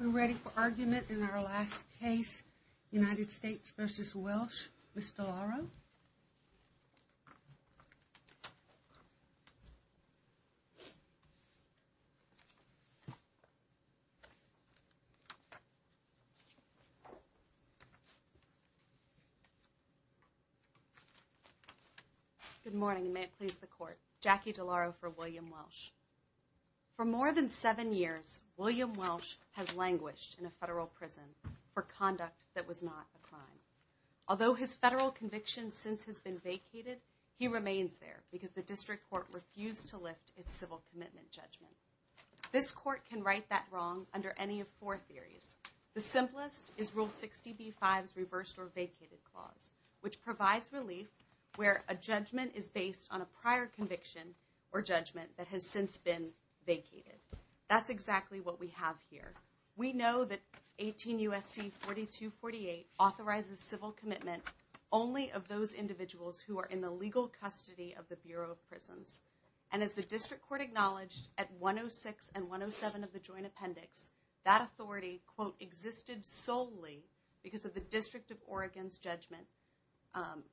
We're ready for argument in our last case, United States v. Welsh, Ms. DeLauro. Good morning, and may it please the Court. Jackie DeLauro for William Welsh. For more than seven years, William Welsh has languished in a federal prison for conduct that was not a crime. Although his federal conviction since has been vacated, he remains there because the District Court refused to lift its civil commitment judgment. This Court can right that wrong under any of four theories. The simplest is Rule 60b-5's reversed or vacated clause, which provides relief where a judgment is based on a prior conviction or judgment that has since been vacated. That's exactly what we have here. We know that 18 U.S.C. 4248 authorizes civil commitment only of those individuals who are in the legal custody of the Bureau of Prisons. And as the District Court acknowledged at 106 and 107 of the Joint Appendix, that authority, quote, existed solely because of the District of Oregon's judgment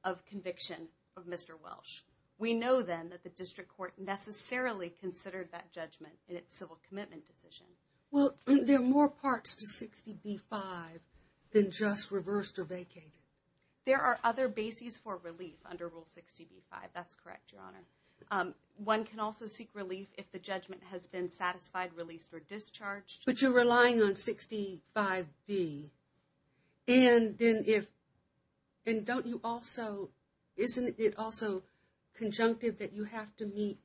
of conviction of Mr. Welsh. We know, then, that the District Court necessarily considered that judgment in its civil commitment decision. Well, there are more parts to 60b-5 than just reversed or vacated. There are other bases for relief under Rule 60b-5. That's correct, Your Honor. One can also seek relief if the judgment has been satisfied, released, or discharged. But you're relying on 65b. And then if, and don't you also, isn't it also conjunctive that you have to meet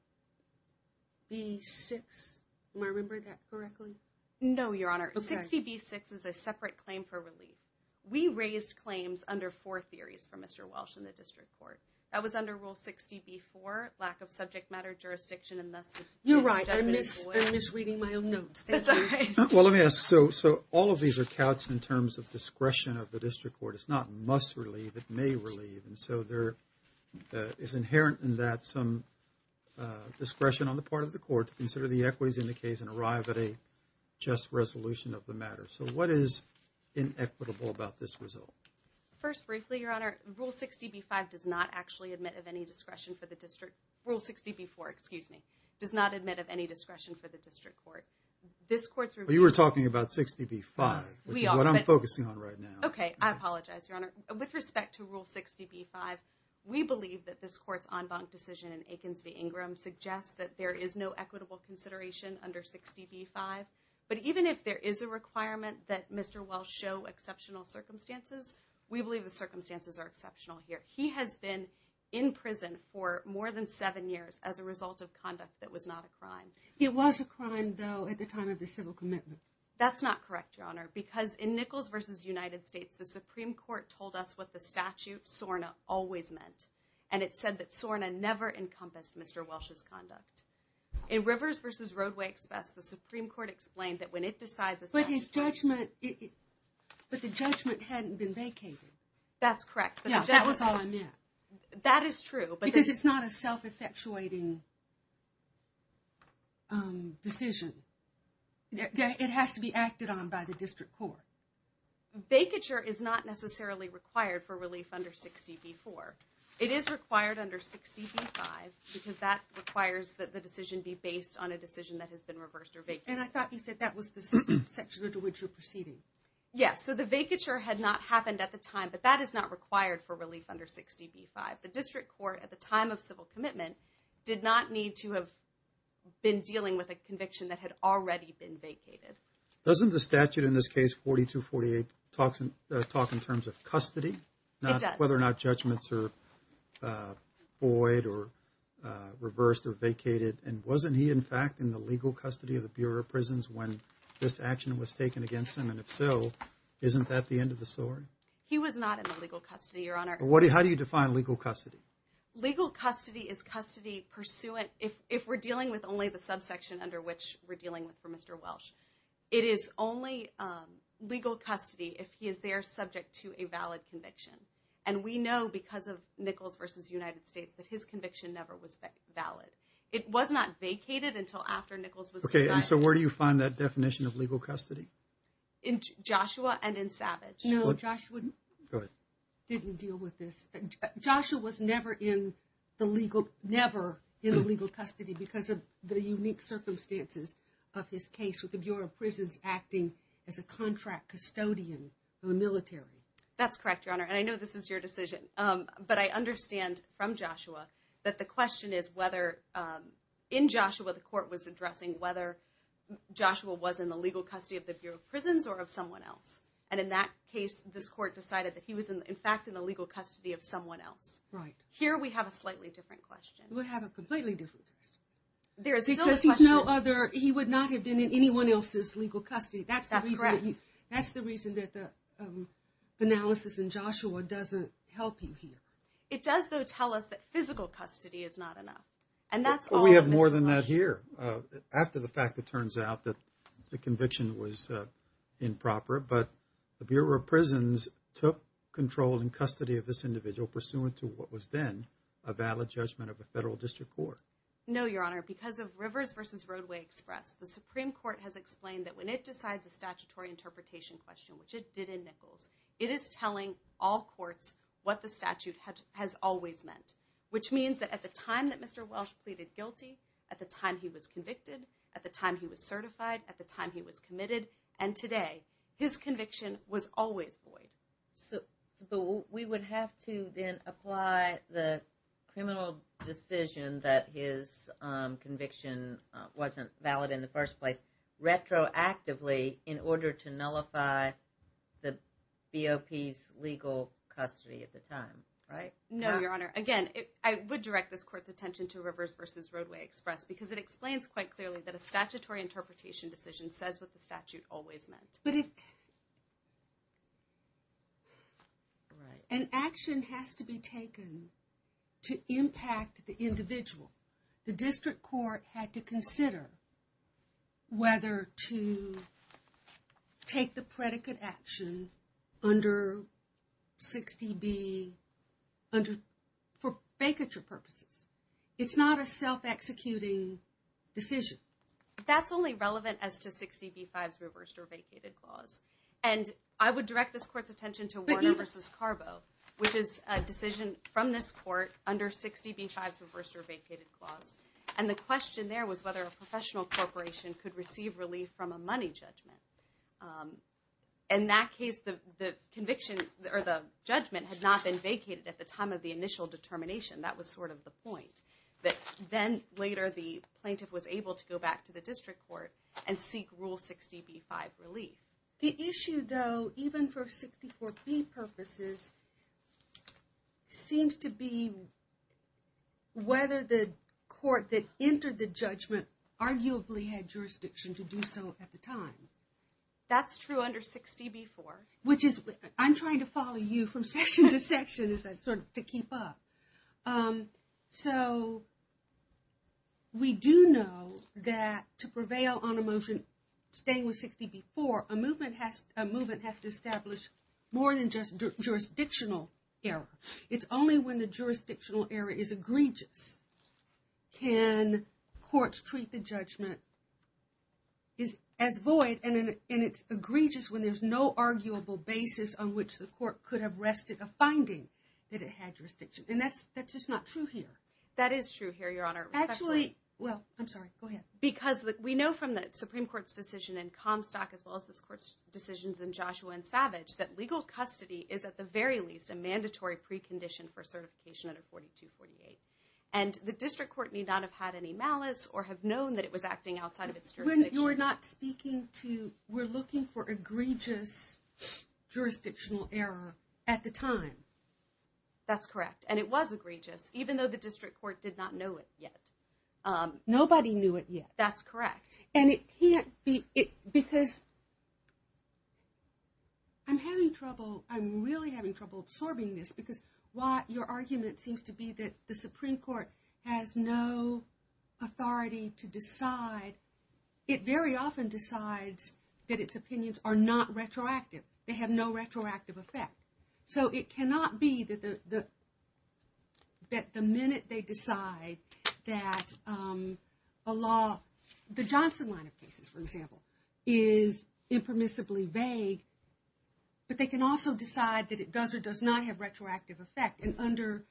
b-6? Am I remembering that correctly? No, Your Honor. 60b-6 is a separate claim for relief. We raised claims under four theories for Mr. Welsh in the District Court. That was under Rule 60b-4, lack of subject matter jurisdiction, and thus the judgment is void. You're right. I miss reading my own notes. That's all right. Well, let me ask. So all of these are couched in terms of discretion of the District Court. It's not must relieve. It may relieve. And so there is inherent in that some discretion on the part of the court to consider the equities in the case and arrive at a just resolution of the matter. So what is inequitable about this result? First, briefly, Your Honor, Rule 60b-5 does not actually admit of any discretion for the District. Rule 60b-4, excuse me, does not admit of any discretion for the District Court. You were talking about 60b-5, which is what I'm focusing on right now. Okay, I apologize, Your Honor. With respect to Rule 60b-5, we believe that this court's en banc decision in Aikens v. Ingram suggests that there is no equitable consideration under 60b-5. But even if there is a requirement that Mr. Welsh show exceptional circumstances, we believe the circumstances are exceptional here. He has been in prison for more than seven years as a result of conduct that was not a crime. It was a crime, though, at the time of the civil commitment. That's not correct, Your Honor, because in Nichols v. United States, the Supreme Court told us what the statute, SORNA, always meant. And it said that SORNA never encompassed Mr. Welsh's conduct. In Rivers v. Roadway Express, the Supreme Court explained that when it decides a statute... But his judgment, but the judgment hadn't been vacated. That's correct. Yeah, that was all I meant. That is true. Because it's not a self-effectuating decision. It has to be acted on by the district court. Vacature is not necessarily required for relief under 60b-4. It is required under 60b-5 because that requires that the decision be based on a decision that has been reversed or vacated. And I thought you said that was the section under which you're proceeding. Yes, so the vacature had not happened at the time, but that is not required for relief under 60b-5. The district court, at the time of civil commitment, did not need to have been dealing with a conviction that had already been vacated. Doesn't the statute in this case, 42-48, talk in terms of custody? It does. Whether or not judgments are void or reversed or vacated. And wasn't he, in fact, in the legal custody of the Bureau of Prisons when this action was taken against him? And if so, isn't that the end of the story? He was not in the legal custody, Your Honor. How do you define legal custody? Legal custody is custody pursuant, if we're dealing with only the subsection under which we're dealing with for Mr. Welsh. It is only legal custody if he is there subject to a valid conviction. And we know because of Nichols v. United States that his conviction never was valid. It was not vacated until after Nichols was assigned. Okay, and so where do you find that definition of legal custody? In Joshua and in Savage. No, Joshua didn't deal with this. Joshua was never in the legal custody because of the unique circumstances of his case with the Bureau of Prisons acting as a contract custodian for the military. That's correct, Your Honor, and I know this is your decision. But I understand from Joshua that the question is whether in Joshua the court was addressing whether Joshua was in the legal custody of the Bureau of Prisons or of someone else. And in that case, this court decided that he was in fact in the legal custody of someone else. Right. Here we have a slightly different question. We have a completely different question. Because he's no other, he would not have been in anyone else's legal custody. That's correct. That's the reason that the analysis in Joshua doesn't help you here. It does, though, tell us that physical custody is not enough. We have more than that here. After the fact, it turns out that the conviction was improper. But the Bureau of Prisons took control and custody of this individual pursuant to what was then a valid judgment of a federal district court. No, Your Honor. Because of Rivers v. Roadway Express, the Supreme Court has explained that when it decides a statutory interpretation question, which it did in Nichols, it is telling all courts what the statute has always meant. Which means that at the time that Mr. Welsh pleaded guilty, at the time he was convicted, at the time he was certified, at the time he was committed, and today, his conviction was always void. But we would have to then apply the criminal decision that his conviction wasn't valid in the first place retroactively in order to nullify the BOP's legal custody at the time, right? No, Your Honor. Again, I would direct this court's attention to Rivers v. Roadway Express because it explains quite clearly that a statutory interpretation decision says what the statute always meant. But if... An action has to be taken to impact the individual. The district court had to consider whether to take the predicate action under 60B for vacature purposes. It's not a self-executing decision. That's only relevant as to 60B-5's reversed or vacated clause. And I would direct this court's attention to Warner v. Carbo, which is a decision from this court under 60B-5's reversed or vacated clause. And the question there was whether a professional corporation could receive relief from a money judgment. In that case, the conviction or the judgment had not been vacated at the time of the initial determination. That was sort of the point, that then later the plaintiff was able to go back to the district court and seek Rule 60B-5 relief. The issue, though, even for 64B purposes, seems to be whether the court that entered the judgment arguably had jurisdiction to do so at the time. That's true under 60B-4. Which is, I'm trying to follow you from section to section to keep up. So, we do know that to prevail on a motion staying with 60B-4, a movement has to establish more than just jurisdictional error. It's only when the jurisdictional error is egregious can courts treat the judgment as void. And it's egregious when there's no arguable basis on which the court could have rested a finding that it had jurisdiction. And that's just not true here. That is true here, Your Honor. Actually, well, I'm sorry, go ahead. Because we know from the Supreme Court's decision in Comstock, as well as this court's decisions in Joshua and Savage, that legal custody is at the very least a mandatory precondition for certification under 4248. And the district court need not have had any malice or have known that it was acting outside of its jurisdiction. You're not speaking to, we're looking for egregious jurisdictional error at the time. That's correct. And it was egregious, even though the district court did not know it yet. Nobody knew it yet. That's correct. And it can't be, because, I'm having trouble, I'm really having trouble absorbing this. Because your argument seems to be that the Supreme Court has no authority to decide. It very often decides that its opinions are not retroactive. They have no retroactive effect. So it cannot be that the minute they decide that a law, the Johnson line of cases, for example, is impermissibly vague. But they can also decide that it does or does not have retroactive effect. And under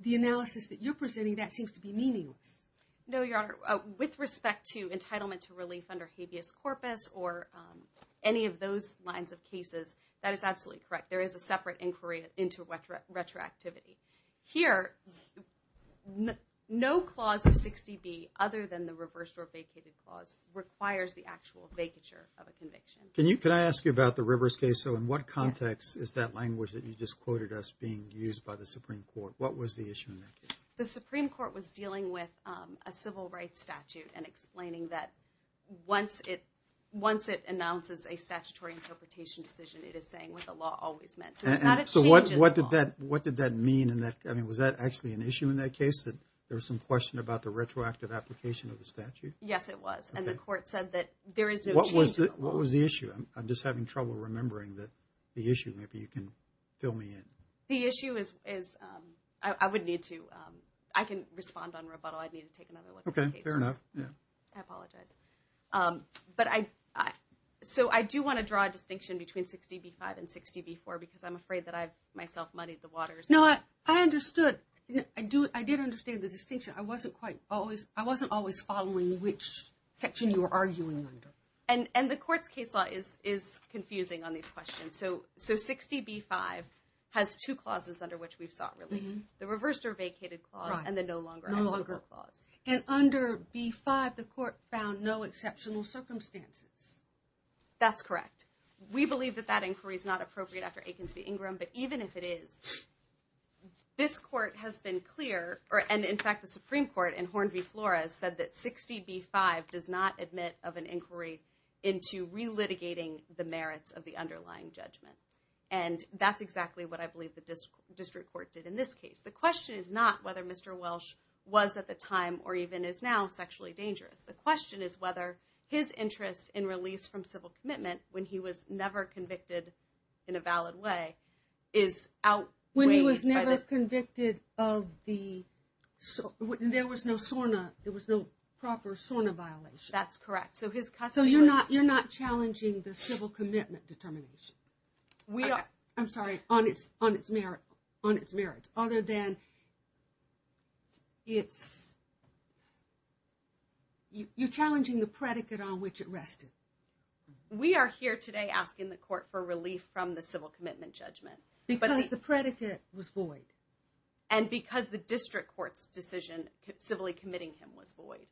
the analysis that you're presenting, that seems to be meaningless. No, Your Honor. With respect to entitlement to relief under habeas corpus or any of those lines of cases, that is absolutely correct. There is a separate inquiry into retroactivity. Here, no clause of 60B, other than the reverse or vacated clause, requires the actual vacature of a conviction. Can I ask you about the Rivers case? So in what context is that language that you just quoted as being used by the Supreme Court? What was the issue in that case? The Supreme Court was dealing with a civil rights statute and explaining that once it announces a statutory interpretation decision, it is saying what the law always meant. So it's not a change in the law. So what did that mean? I mean, was that actually an issue in that case, that there was some question about the retroactive application of the statute? And the court said that there is no change in the law. What was the issue? I'm just having trouble remembering the issue. Maybe you can fill me in. The issue is, I would need to, I can respond on rebuttal. I'd need to take another look at the case. Okay, fair enough. I apologize. But I, so I do want to draw a distinction between 60B-5 and 60B-4 because I'm afraid that I've myself muddied the waters. No, I understood. I did understand the distinction. I wasn't quite always, I wasn't always following which section you were arguing under. And, and the court's case law is, is confusing on these questions. So, so 60B-5 has two clauses under which we've sought relief, the reversed or vacated clause and the no longer. No longer. And under B-5, the court found no exceptional circumstances. That's correct. We believe that that inquiry is not appropriate after Akins v. Ingram, but even if it is, this court has been clear, and in fact the Supreme Court in Horn v. Flores said that 60B-5 does not admit of an inquiry into relitigating the merits of the underlying judgment. And that's exactly what I believe the district court did in this case. The question is not whether Mr. Welsh was at the time or even is now sexually dangerous. The question is whether his interest in release from civil commitment when he was never convicted in a valid way is outweighed. When he was never convicted of the, there was no SORNA, there was no proper SORNA violation. That's correct. So his custody was. So you're not, you're not challenging the civil commitment determination. We are. I'm sorry, on its, on its merit, on its merit. Other than it's, you're challenging the predicate on which it rested. We are here today asking the court for relief from the civil commitment judgment. Because the predicate was void. And because the district court's decision civilly committing him was void.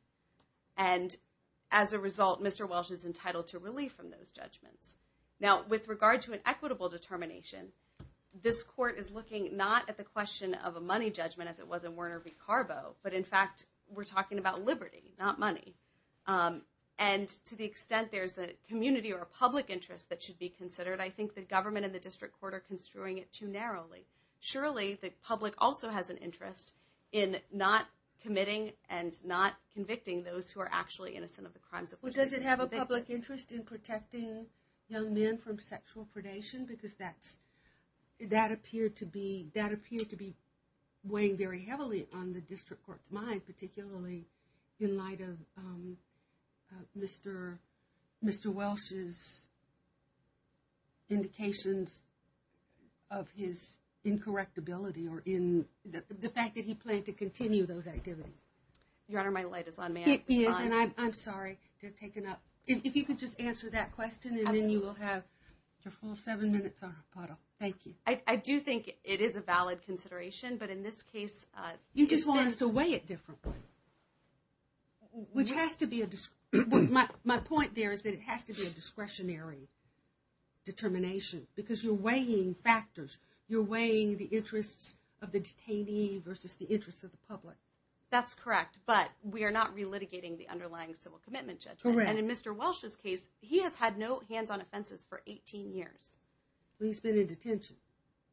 And as a result, Mr. Welsh is entitled to relief from those judgments. Now, with regard to an equitable determination, this court is looking not at the question of a money judgment as it was in Werner v. Carbo, but in fact we're talking about liberty, not money. And to the extent there's a community or a public interest that should be considered, I think the government and the district court are construing it too narrowly. Surely the public also has an interest in not committing and not convicting those who are actually innocent of the crimes. Well, does it have a public interest in protecting young men from sexual predation? Because that's, that appeared to be, that appeared to be weighing very heavily on the district court's mind, particularly in light of Mr. Welsh's indications of his incorrect ability or in the fact that he planned to continue those activities. Your Honor, my light is on. May I respond? It is, and I'm sorry to have taken up. If you could just answer that question and then you will have your full seven minutes, Your Honor. Thank you. I do think it is a valid consideration, but in this case... You just want us to weigh it differently, which has to be a, my point there is that it has to be a discretionary determination because you're weighing factors. You're weighing the interests of the detainee versus the interests of the public. That's correct, but we are not relitigating the underlying civil commitment judgment. And in Mr. Welsh's case, he has had no hands-on offenses for 18 years. Well, he's been in detention.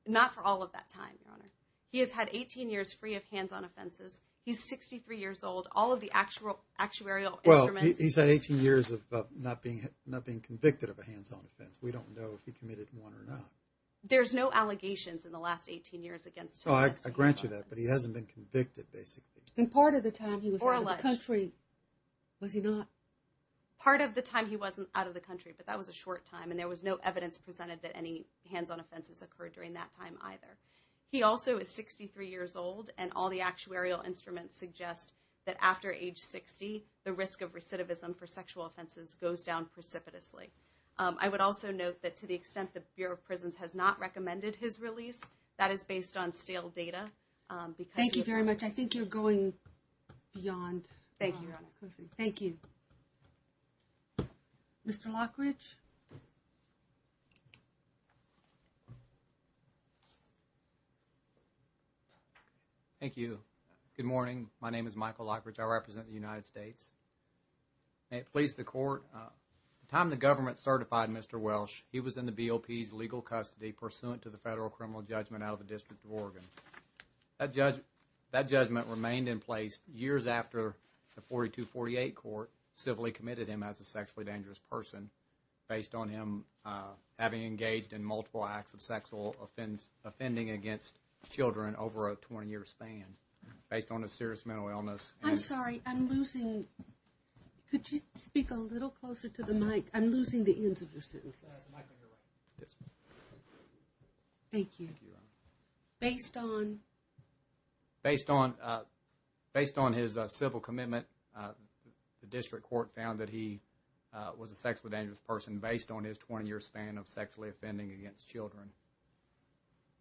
Not for all of that time, Your Honor. He has had 18 years free of hands-on offenses. He's 63 years old. All of the actuarial instruments... Well, he's had 18 years of not being convicted of a hands-on offense. We don't know if he committed one or not. There's no allegations in the last 18 years against him. Oh, I grant you that, but he hasn't been convicted, basically. And part of the time he was out of the country, was he not? Part of the time he wasn't out of the country, but that was a short time, and there was no evidence presented that any hands-on offenses occurred during that time either. He also is 63 years old, and all the actuarial instruments suggest that after age 60, the risk of recidivism for sexual offenses goes down precipitously. I would also note that to the extent the Bureau of Prisons has not recommended his release, that is based on stale data because... Thank you very much. I think you're going beyond... Thank you, Your Honor. Thank you. Mr. Lockridge? Thank you. Good morning. My name is Michael Lockridge. I represent the United States. May it please the Court. At the time the government certified Mr. Welsh, he was in the BOP's legal custody pursuant to the federal criminal judgment out of the District of Oregon. That judgment remained in place years after the 4248 court civilly committed him as a sexually dangerous person based on him having engaged in multiple acts of sexual offending against children over a 20-year span based on a serious mental illness. I'm sorry, I'm losing... Could you speak a little closer to the mic? I'm losing the ends of your sentences. Michael, you're right. Thank you. Based on... Based on his civil commitment, the district court found that he was a sexually dangerous person based on his 20-year span of sexually offending against children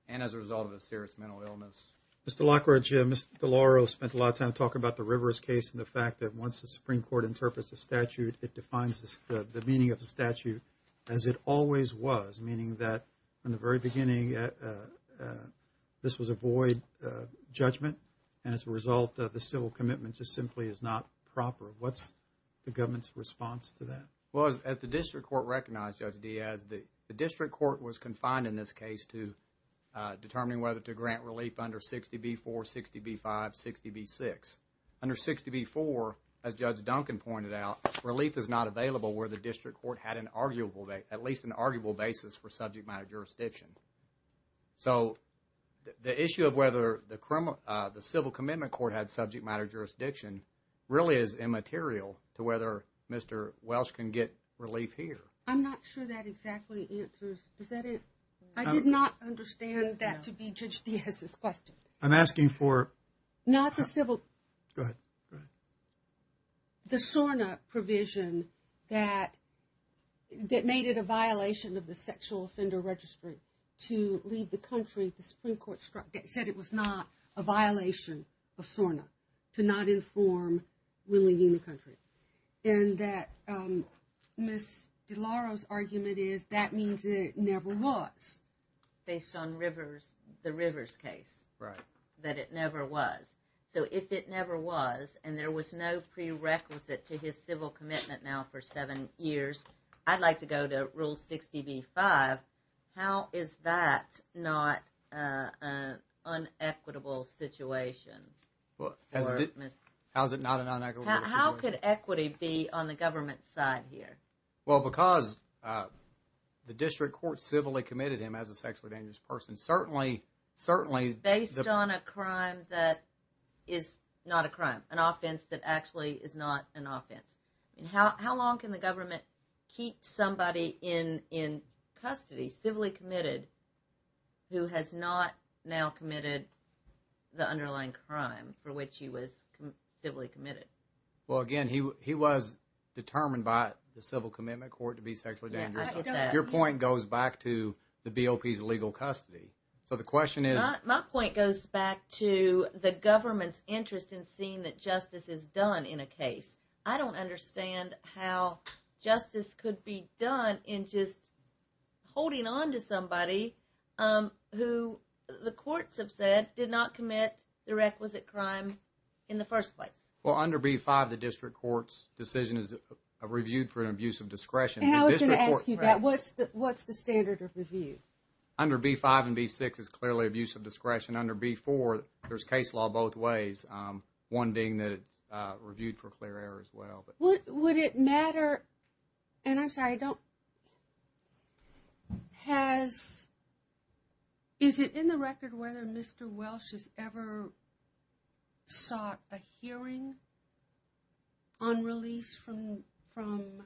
and as a result of a serious mental illness. Mr. Lockridge, Mr. DeLauro spent a lot of time talking about the Rivers case and the fact that once the Supreme Court interprets the statute, it defines the meaning of the statute as it always was, meaning that in the very beginning, this was a void judgment and as a result, the civil commitment just simply is not proper. What's the government's response to that? Well, as the district court recognized, Judge Diaz, the district court was confined in this case to determining whether to grant relief under 60B4, 60B5, 60B6. Under 60B4, as Judge Duncan pointed out, relief is not available where the district court had at least an arguable basis for subject matter jurisdiction. So, the issue of whether the civil commitment court had subject matter jurisdiction really is immaterial to whether Mr. Welsh can get relief here. I'm not sure that exactly answers... Is that it? I did not understand that to be Judge Diaz's question. I'm asking for... Not the civil... Go ahead. The SORNA provision that made it a violation of the sexual offender registry to leave the country, the Supreme Court said it was not a violation of SORNA to not inform relieving the country. And that Ms. DeLauro's argument is that means it never was. Based on the Rivers case, that it never was. So, if it never was and there was no prerequisite to his civil commitment now for seven years, I'd like to go to Rule 60B5. How is that not an unequitable situation? How is it not an unequitable situation? How could equity be on the government's side here? Well, because the district court civilly committed him as a sexually dangerous person. Based on a crime that is not a crime, an offense that actually is not an offense. How long can the government keep somebody in custody, civilly committed, who has not now committed the underlying crime for which he was civilly committed? Well, again, he was determined by the civil commitment court to be sexually dangerous. Your point goes back to the BOP's legal custody. So, the question is... My point goes back to the government's interest in seeing that justice is done in a case. I don't understand how justice could be done in just holding on to somebody who the courts have said did not commit the requisite crime in the first place. Well, under B5, the district court's decision is reviewed for an abuse of discretion. And I was going to ask you that. What's the standard of review? Under B5 and B6, it's clearly abuse of discretion. Under B4, there's case law both ways. One being that it's reviewed for clear error as well. Would it matter... And I'm sorry, I don't... Has... Is it in the record whether Mr. Welsh has ever sought a hearing on release from... From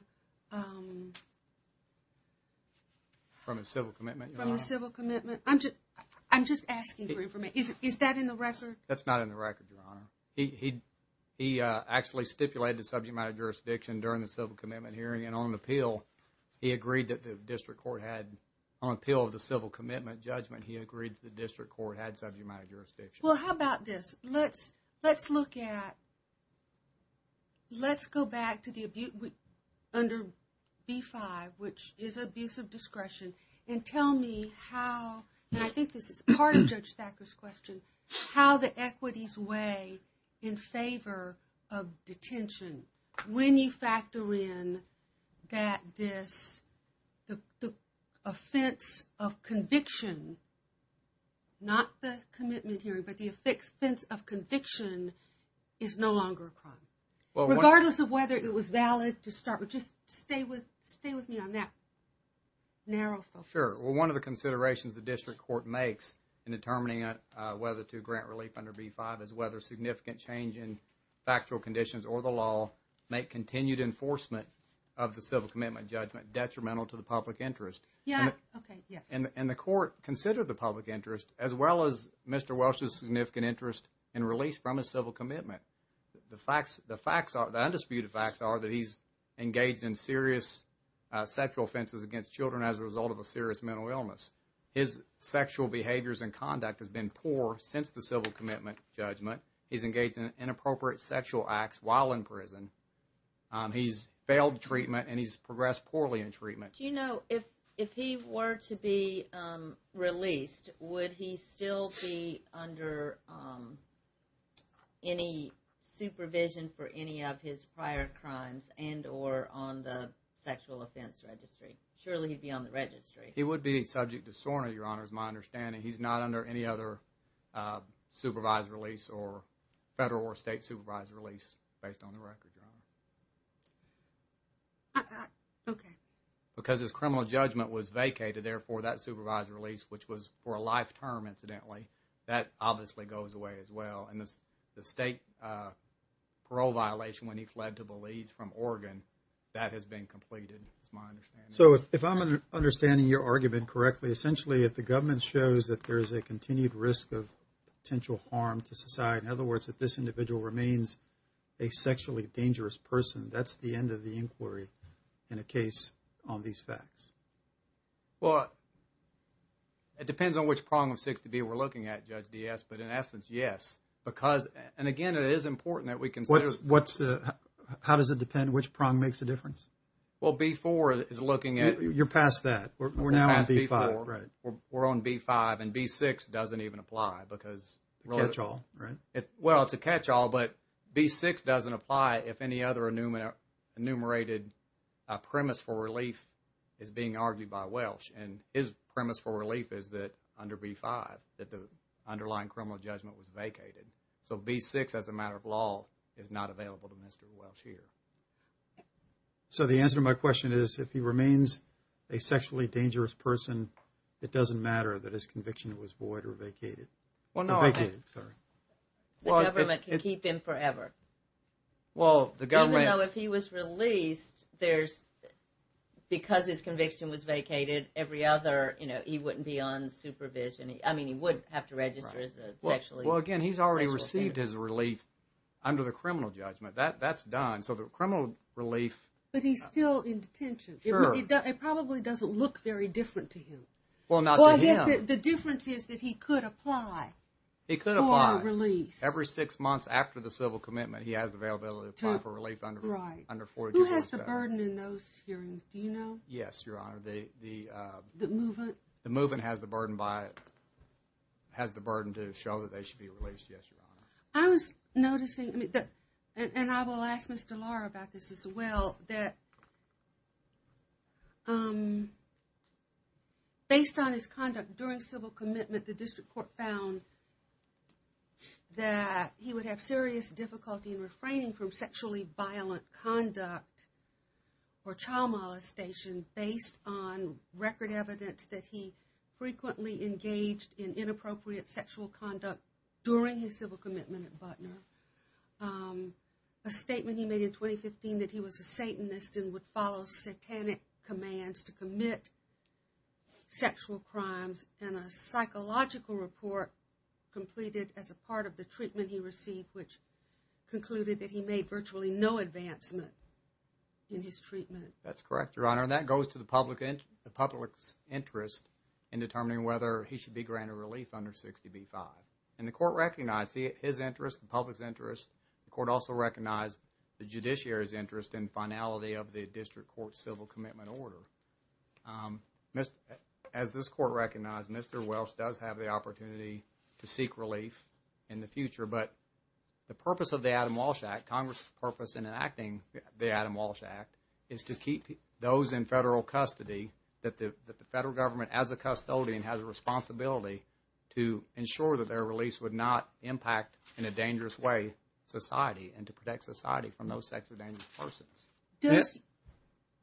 the civil commitment, Your Honor? From the civil commitment? I'm just asking for information. Is that in the record? That's not in the record, Your Honor. He actually stipulated subject matter jurisdiction during the civil commitment hearing. And on appeal, he agreed that the district court had... He agreed that the district court had subject matter jurisdiction. Well, how about this? Let's look at... Let's go back to the abuse under B5, which is abuse of discretion, and tell me how... And I think this is part of Judge Thacker's question. How the equities weigh in favor of detention when you factor in that this... The offense of conviction, not the commitment hearing, but the offense of conviction, is no longer a crime. Regardless of whether it was valid to start with. Just stay with me on that. Narrow focus. Sure. Well, one of the considerations the district court makes in determining whether to grant relief under B5 is whether significant change in factual conditions or the law may continue to enforcement of the civil commitment judgment detrimental to the public interest. Yeah. Okay. Yes. And the court considered the public interest as well as Mr. Welsh's significant interest in release from his civil commitment. The facts... The facts are... The undisputed facts are that he's engaged in serious sexual offenses against children as a result of a serious mental illness. His sexual behaviors and conduct has been poor since the civil commitment judgment. He's engaged in inappropriate sexual acts while in prison. He's failed treatment and he's progressed poorly in treatment. Do you know if he were to be released, would he still be under any supervision for any of his prior crimes and or on the sexual offense registry? Surely he'd be on the registry. He would be subject to SORNA, Your Honor, is my understanding. He's not under any other supervised release or federal or state supervised release based on the record, Your Honor. Okay. Because his criminal judgment was vacated, therefore that supervised release, which was for a life term, incidentally, that obviously goes away as well. And the state parole violation when he fled to Belize from Oregon, that has been completed, is my understanding. So if I'm understanding your argument correctly, essentially if the government shows that there's a continued risk of potential harm to society, in other words, that this individual remains a sexually dangerous person, that's the end of the inquiry in a case on these facts. Well, it depends on which prong of 6 to B we're looking at, Judge Diaz, but in essence, yes, because, and again, it is important that we consider. How does it depend which prong makes a difference? Well, B4 is looking at... You're past that. We're now on B5, right. We're on B5, and B6 doesn't even apply because... A catch-all, right? Well, it's a catch-all, but B6 doesn't apply if any other enumerated premise for relief is being argued by Welsh. And his premise for relief is that under B5, that the underlying criminal judgment was vacated. So B6, as a matter of law, is not available to Mr. Welsh here. So the answer to my question is, if he remains a sexually dangerous person, it doesn't matter that his conviction was void or vacated. Or vacated, sorry. The government can keep him forever. Well, the government... Even though if he was released, there's... Because his conviction was vacated, every other, you know, he wouldn't be on supervision. I mean, he would have to register as a sexually... Well, again, he's already received his relief under the criminal judgment. That's done. So the criminal relief... But he's still in detention. Sure. It probably doesn't look very different to him. Well, not to him. Well, yes, the difference is that he could apply for a release. He could apply. Every six months after the civil commitment, he has the availability to apply for relief under 42.7. Right. Who has the burden in those hearings? Do you know? Yes, Your Honor. The movement? The movement has the burden to show that they should be released. Yes, Your Honor. Well, I was noticing... And I will ask Mr. Lahr about this as well, that based on his conduct during civil commitment, the district court found that he would have serious difficulty in refraining from sexually violent conduct or child molestation based on record evidence that he frequently engaged in inappropriate sexual conduct during his civil commitment at Butner. A statement he made in 2015 that he was a Satanist and would follow satanic commands to commit sexual crimes and a psychological report completed as a part of the treatment he received, which concluded that he made virtually no advancement in his treatment. That's correct, Your Honor, and that goes to the public's interest in determining whether he should be granted relief under 60b-5. And the court recognized his interest, the public's interest. The court also recognized the judiciary's interest in finality of the district court's civil commitment order. As this court recognized, Mr. Welsh does have the opportunity to seek relief in the future, but the purpose of the Adam Walsh Act, Congress' purpose in enacting the Adam Walsh Act, is to keep those in federal custody, that the federal government, as a custodian, has a responsibility to ensure that their release would not impact, in a dangerous way, society and to protect society from those types of dangerous persons.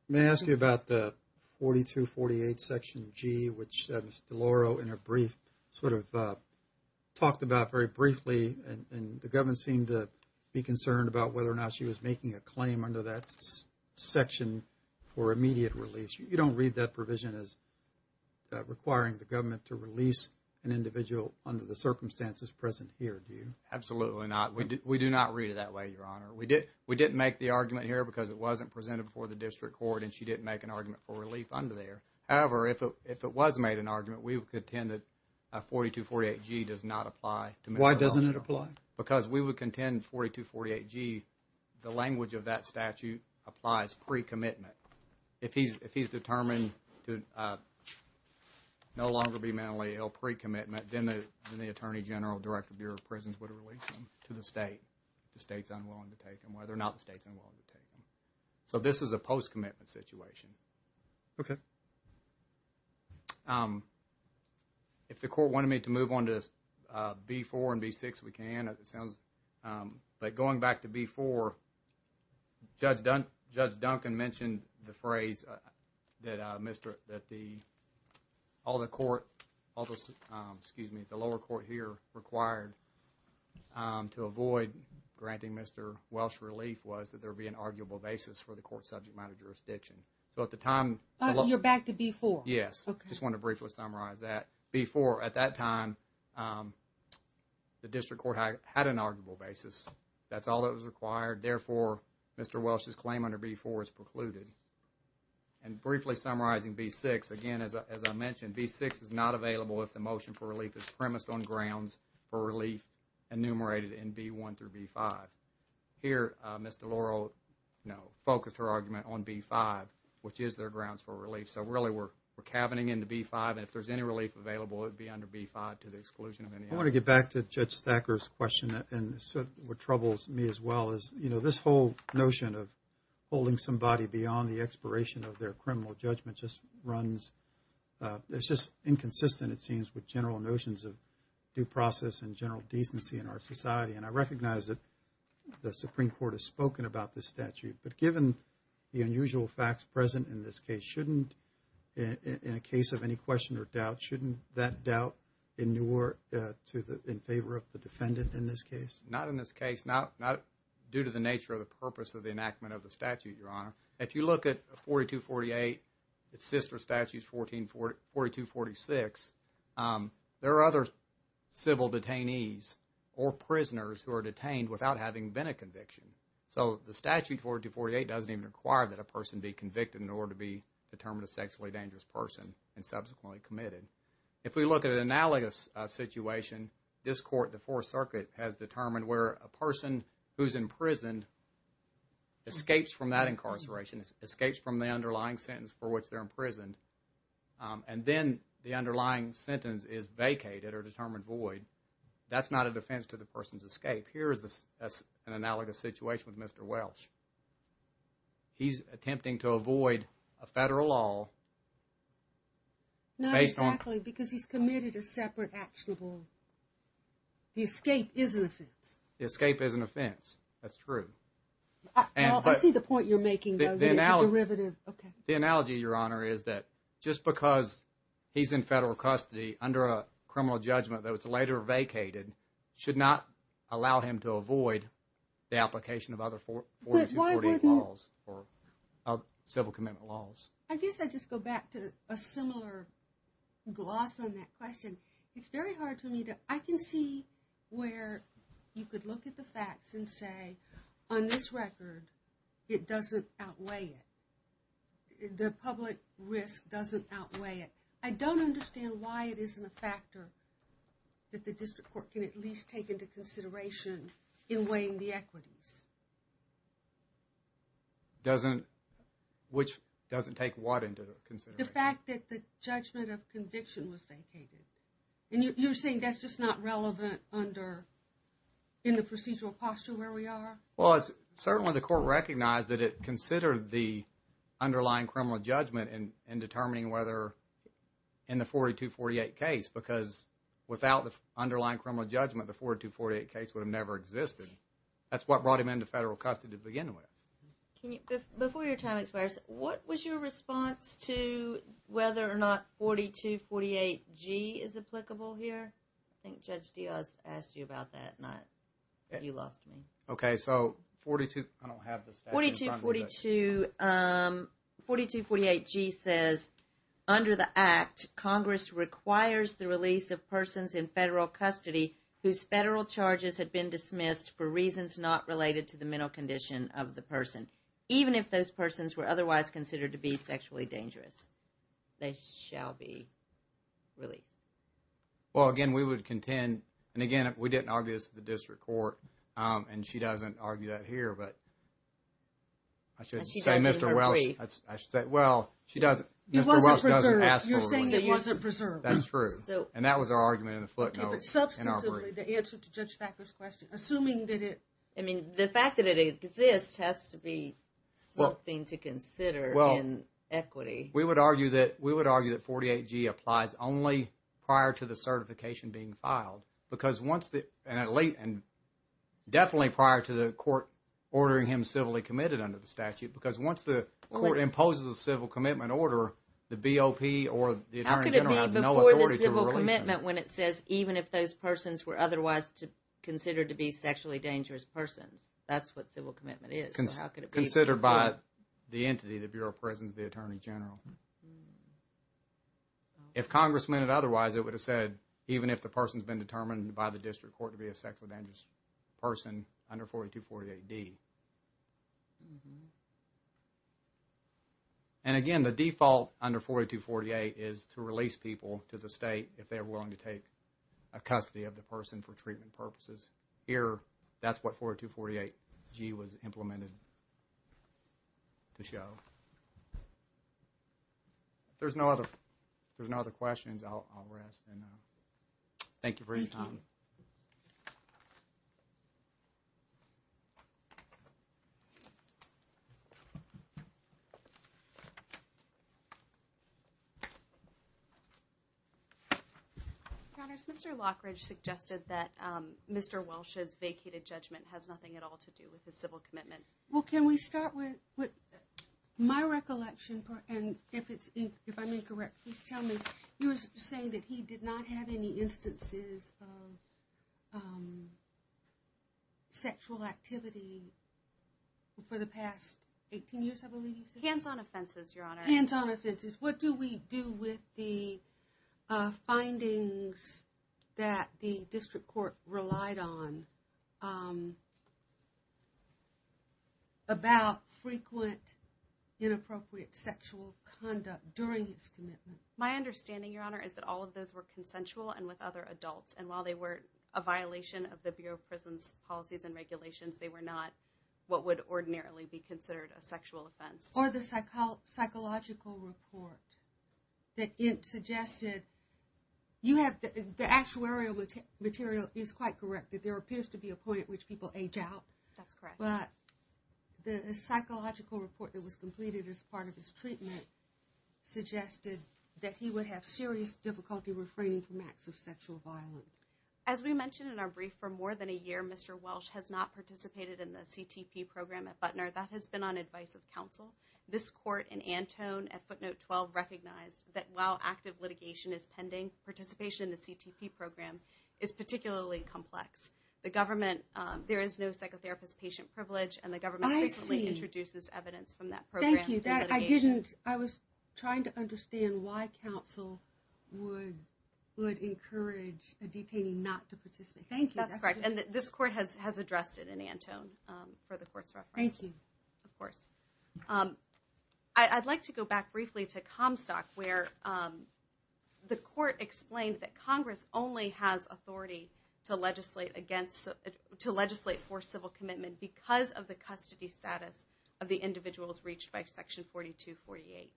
May I ask you about the 4248 section G, which Ms. DeLauro, in her brief, sort of talked about very briefly and the government seemed to be concerned about whether or not she was making a claim under that section for immediate release. You don't read that provision as requiring the government to release an individual under the circumstances present here, do you? Absolutely not. We do not read it that way, Your Honor. We didn't make the argument here because it wasn't presented before the district court and she didn't make an argument for relief under there. However, if it was made an argument, we would contend that 4248 G does not apply. Why doesn't it apply? Because we would contend 4248 G, the language of that statute applies pre-commitment. If he's determined to no longer be mentally ill pre-commitment, then the Attorney General, Director of Bureau of Prisons would release him to the state if the state's unwilling to take him, whether or not the state's unwilling to take him. So this is a post-commitment situation. Okay. If the court wanted me to move on to B4 and B6, we can. But going back to B4, Judge Duncan mentioned the phrase that all the lower court here required to avoid granting Mr. Welsh relief was that there be an arguable basis for the court subject matter jurisdiction. So at the time... You're back to B4. Yes. Okay. Just want to briefly summarize that. B4, at that time, the district court had an arguable basis. That's all that was required. Therefore, Mr. Welsh's claim under B4 is precluded. And briefly summarizing B6, again, as I mentioned, B6 is not available if the motion for relief is premised on grounds for relief enumerated in B1 through B5. Here, Ms. DeLauro focused her argument on B5, which is their grounds for relief. So really we're cabining into B5. And if there's any relief available, it would be under B5 to the exclusion of any other. I want to get back to Judge Thacker's question. And what troubles me as well is, you know, this whole notion of holding somebody beyond the expiration of their criminal judgment just runs... It's just inconsistent, it seems, with general notions of due process and general decency in our society. And I recognize that the Supreme Court has spoken about this statute. But given the unusual facts present in this case, shouldn't, in a case of any question or doubt, shouldn't that doubt endure in favor of the defendant in this case? Not in this case. Not due to the nature or the purpose of the enactment of the statute, Your Honor. If you look at 4248, its sister statute, 4246, there are other civil detainees or prisoners who are detained without having been a conviction. So the statute 4248 doesn't even require that a person be convicted in order to be determined a sexually dangerous person and subsequently committed. If we look at an analogous situation, this court, the Fourth Circuit, has determined where a person who's imprisoned escapes from that incarceration, escapes from the underlying sentence for which they're imprisoned, and then the underlying sentence is vacated or determined void, that's not a defense to the person's escape. Here is an analogous situation with Mr. Welsh. He's attempting to avoid a federal law based on... Not exactly, because he's committed a separate actionable... The escape is an offense. The escape is an offense, that's true. I see the point you're making, though. It's a derivative. The analogy, Your Honor, is that just because he's in federal custody under a criminal judgment that was later vacated should not allow him to avoid the application of other 4248 laws or civil commitment laws. I guess I just go back to a similar gloss on that question. It's very hard for me to... I can see where you could look at the facts and say, on this record, it doesn't outweigh it. The public risk doesn't outweigh it. I don't understand why it isn't a factor that the district court can at least take into consideration in weighing the equities. Which doesn't take what into consideration? The fact that the judgment of conviction was vacated. And you're saying that's just not relevant in the procedural posture where we are? Certainly the court recognized that it considered the underlying criminal judgment in determining whether in the 4248 case, because without the underlying criminal judgment the 4248 case would have never existed. That's what brought him into federal custody to begin with. Before your time expires, what was your response to whether or not 4248G is applicable here? I think Judge Diaz asked you about that. You lost me. 4242... 4248G says, under the Act, Congress requires the release of persons in federal custody whose federal charges have been dismissed for reasons not related to the mental condition of the person. Even if those persons were otherwise considered to be sexually dangerous. They shall be released. Well, again, we would contend... And again, we didn't argue this at the district court. And she doesn't argue that here, but... I should say Mr. Welsh... He wasn't preserved. You're saying he wasn't preserved. That's true. And that was our argument in the footnotes. Substantively, the answer to Judge Thacker's question, assuming that it... I mean, the fact that it exists has to be something to consider in equity. We would argue that 48G applies only prior to the certification being filed. Because once the... Definitely prior to the court ordering him civilly committed under the statute. Because once the court imposes a civil commitment order, the BOP or the Attorney General has no authority to release him. How could it be before the civil commitment when it says, even if those persons were otherwise considered to be sexually dangerous persons? That's what civil commitment is. Considered by the entity, the Bureau of Prisons, the Attorney General. If Congress meant it otherwise, it would have said, even if the person's been determined by the district court to be a sexually dangerous person under 4248D. And again, the default under 4248 is to release people to the state if they're willing to take a custody of the person for treatment purposes. Here, that's what 4248G was implemented to show. If there's no other questions, I'll rest. Thank you for your time. Mr. Lockridge suggested that Mr. Welch's vacated judgment has nothing at all to do with the civil commitment. Well, can we start with my recollection? If I'm incorrect, please tell me. of being sexually dangerous. Sexual activity for the past 18 years, I believe you said? Hands-on offenses, Your Honor. What do we do with the findings that the district court relied on about frequent inappropriate sexual conduct during its commitment? My understanding, Your Honor, is that all of those were consensual and with other adults. And while they were a violation of the Bureau of Prisons policies and regulations, they were not what would ordinarily be considered a sexual offense. Or the psychological report that suggested the actuarial material is quite correct that there appears to be a point at which people age out. But the psychological report that was completed as part of his treatment suggested that he would have serious difficulty refraining from acts of sexual violence. As we mentioned in our brief, for more than a year, Mr. Welch has not participated in the CTP program at Butner. That has been on advice of counsel. This court in Antone at footnote 12 recognized that while active litigation is pending, participation in the CTP program is particularly complex. There is no psychotherapist patient privilege and the government frequently introduces evidence from that program into litigation. I was trying to understand why counsel would encourage a detainee not to participate. That's correct. And this court has addressed it in Antone for the court's reference. I'd like to go back briefly to Comstock where the court explained that Congress only has authority to legislate for civil commitment because of the custody status of the individuals reached by section 4248.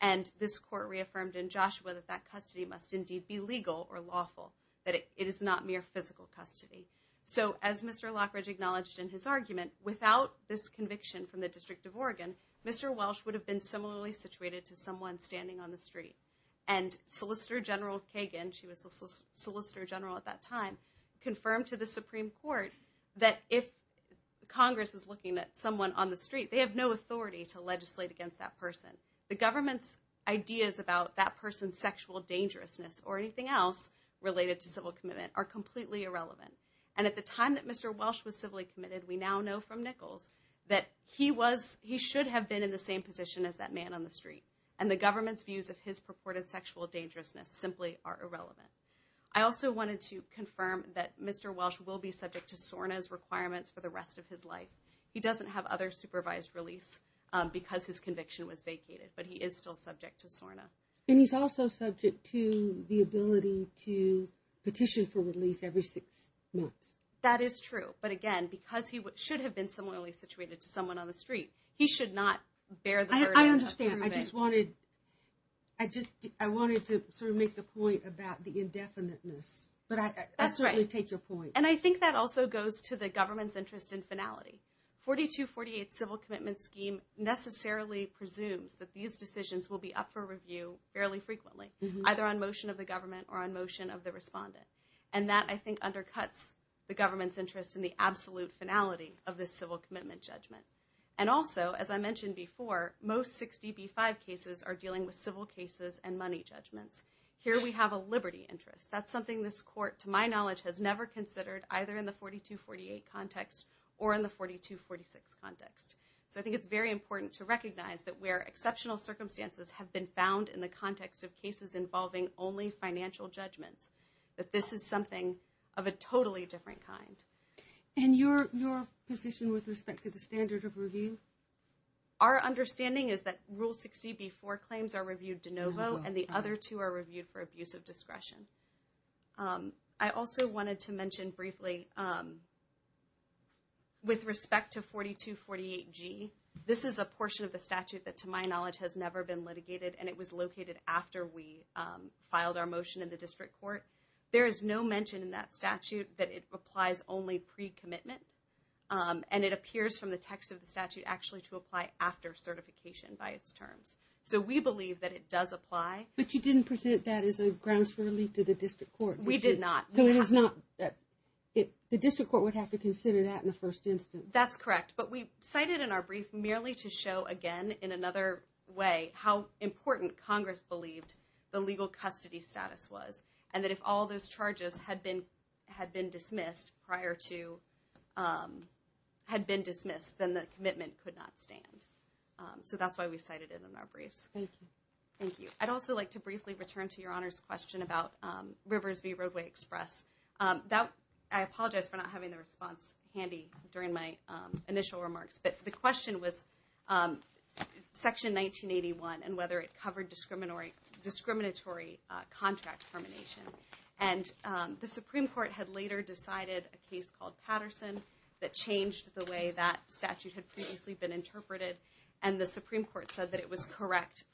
And this court reaffirmed in Joshua that that custody must indeed be legal or lawful, that it is not mere physical custody. So as Mr. Lockridge acknowledged in his argument, without this conviction from the District of Oregon, Mr. Welch would have been similarly situated to someone standing on the street. And Solicitor General Kagan, she was the Solicitor General at that time, confirmed to the Supreme Court that if Congress is looking at someone on the street, they have no authority to legislate against that person. The government's ideas about that person's sexual dangerousness or anything else related to civil commitment are completely irrelevant. And at the time that Mr. Welch was civilly committed, we now know from Nichols that he should have been in the same position as that man on the street. And the government's views of his purported sexual dangerousness simply are irrelevant. I also wanted to confirm that Mr. Welch will be subject to SORNA's requirements for the rest of his life. He doesn't have other supervised release because his conviction was vacated. But he is still subject to SORNA. And he's also subject to the ability to petition for release every six months. That is true. But again, because he should have been similarly situated to someone on the street, he should not bear the burden. I understand. I just wanted to make the point about the indefiniteness. But I certainly take your point. And I think that also goes to the government's interest in finality. 4248's civil commitment scheme necessarily presumes that these decisions will be up for review fairly frequently, either on motion of the government or on motion of the respondent. And that, I think, undercuts the government's interest in the absolute finality of this civil commitment judgment. And also, as I mentioned before, most 60B5 cases are dealing with civil cases and money judgments. Here we have a liberty interest. That's something this court, to my knowledge, has never considered, either in the 4248 context or in the 4246 context. So I think it's very important to recognize that where exceptional circumstances have been found in the context of cases involving only financial judgments, that this is something of a totally different kind. And your position with respect to the standard of review? Our understanding is that Rule 60B4 claims are reviewed de novo and the other two are reviewed for abuse of discretion. I also wanted to mention briefly with respect to 4248G, this is a portion of the statute that, to my knowledge, has never been litigated and it was located after we filed our motion in the district court. There is no mention in that statute that it applies only pre-commitment. And it appears from the text of the statute actually to apply after certification by its terms. So we believe that it does apply. But you didn't present that as a grounds for relief to the district court. We did not. The district court would have to consider that in the first instance. That's correct. But we cited in our brief merely to show, again, in another way, how important Congress believed the legal custody status was. And that if all those charges had been dismissed prior to had been dismissed, then the commitment could not stand. So that's why we cited it in our briefs. Thank you. I'd also like to briefly return to your Honor's question about Rivers V. Roadway Express. I apologize for not having the response handy during my initial remarks. But the question was, Section 1981 and whether it covered discriminatory contract termination. And the Supreme Court had later decided a case called Patterson that changed the way that statute had previously been interpreted. And the Supreme Court said that it was correct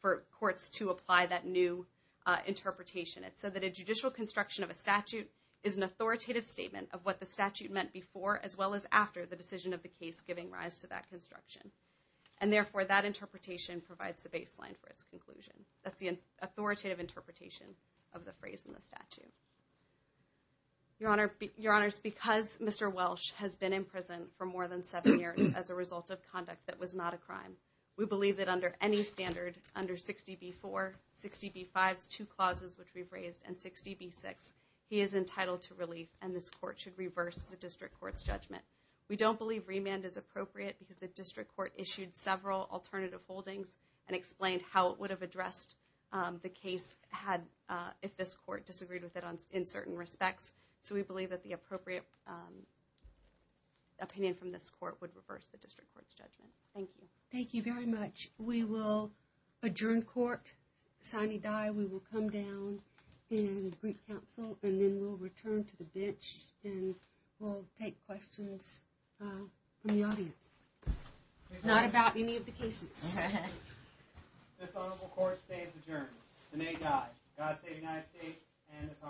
for courts to apply that new interpretation. It said that a judicial construction of a statute is an authoritative statement of what the statute meant before as well as after the decision of the case giving rise to that construction. And therefore, that interpretation provides the baseline for its conclusion. That's the authoritative interpretation of the phrase in the statute. Your Honor, because Mr. Welsh has been in prison for more than seven years as a result of conduct that was not a crime, we believe that under any standard under 60B4, 60B5's two clauses which we've raised, and 60B6, he is entitled to relief and this court should reverse the district court's judgment. We don't believe remand is appropriate because the district court issued several alternative holdings and explained how it would have addressed the case if this court disagreed with it in certain respects. So we believe that the appropriate opinion from this court would reverse the district court's judgment. Thank you. Thank you very much. We will adjourn court, sign and die. We will come down and brief counsel and then we'll return to the bench and we'll take questions from the audience. Not about any of the cases. This honorable court stays adjourned. The May die. God save the United States and this honorable court.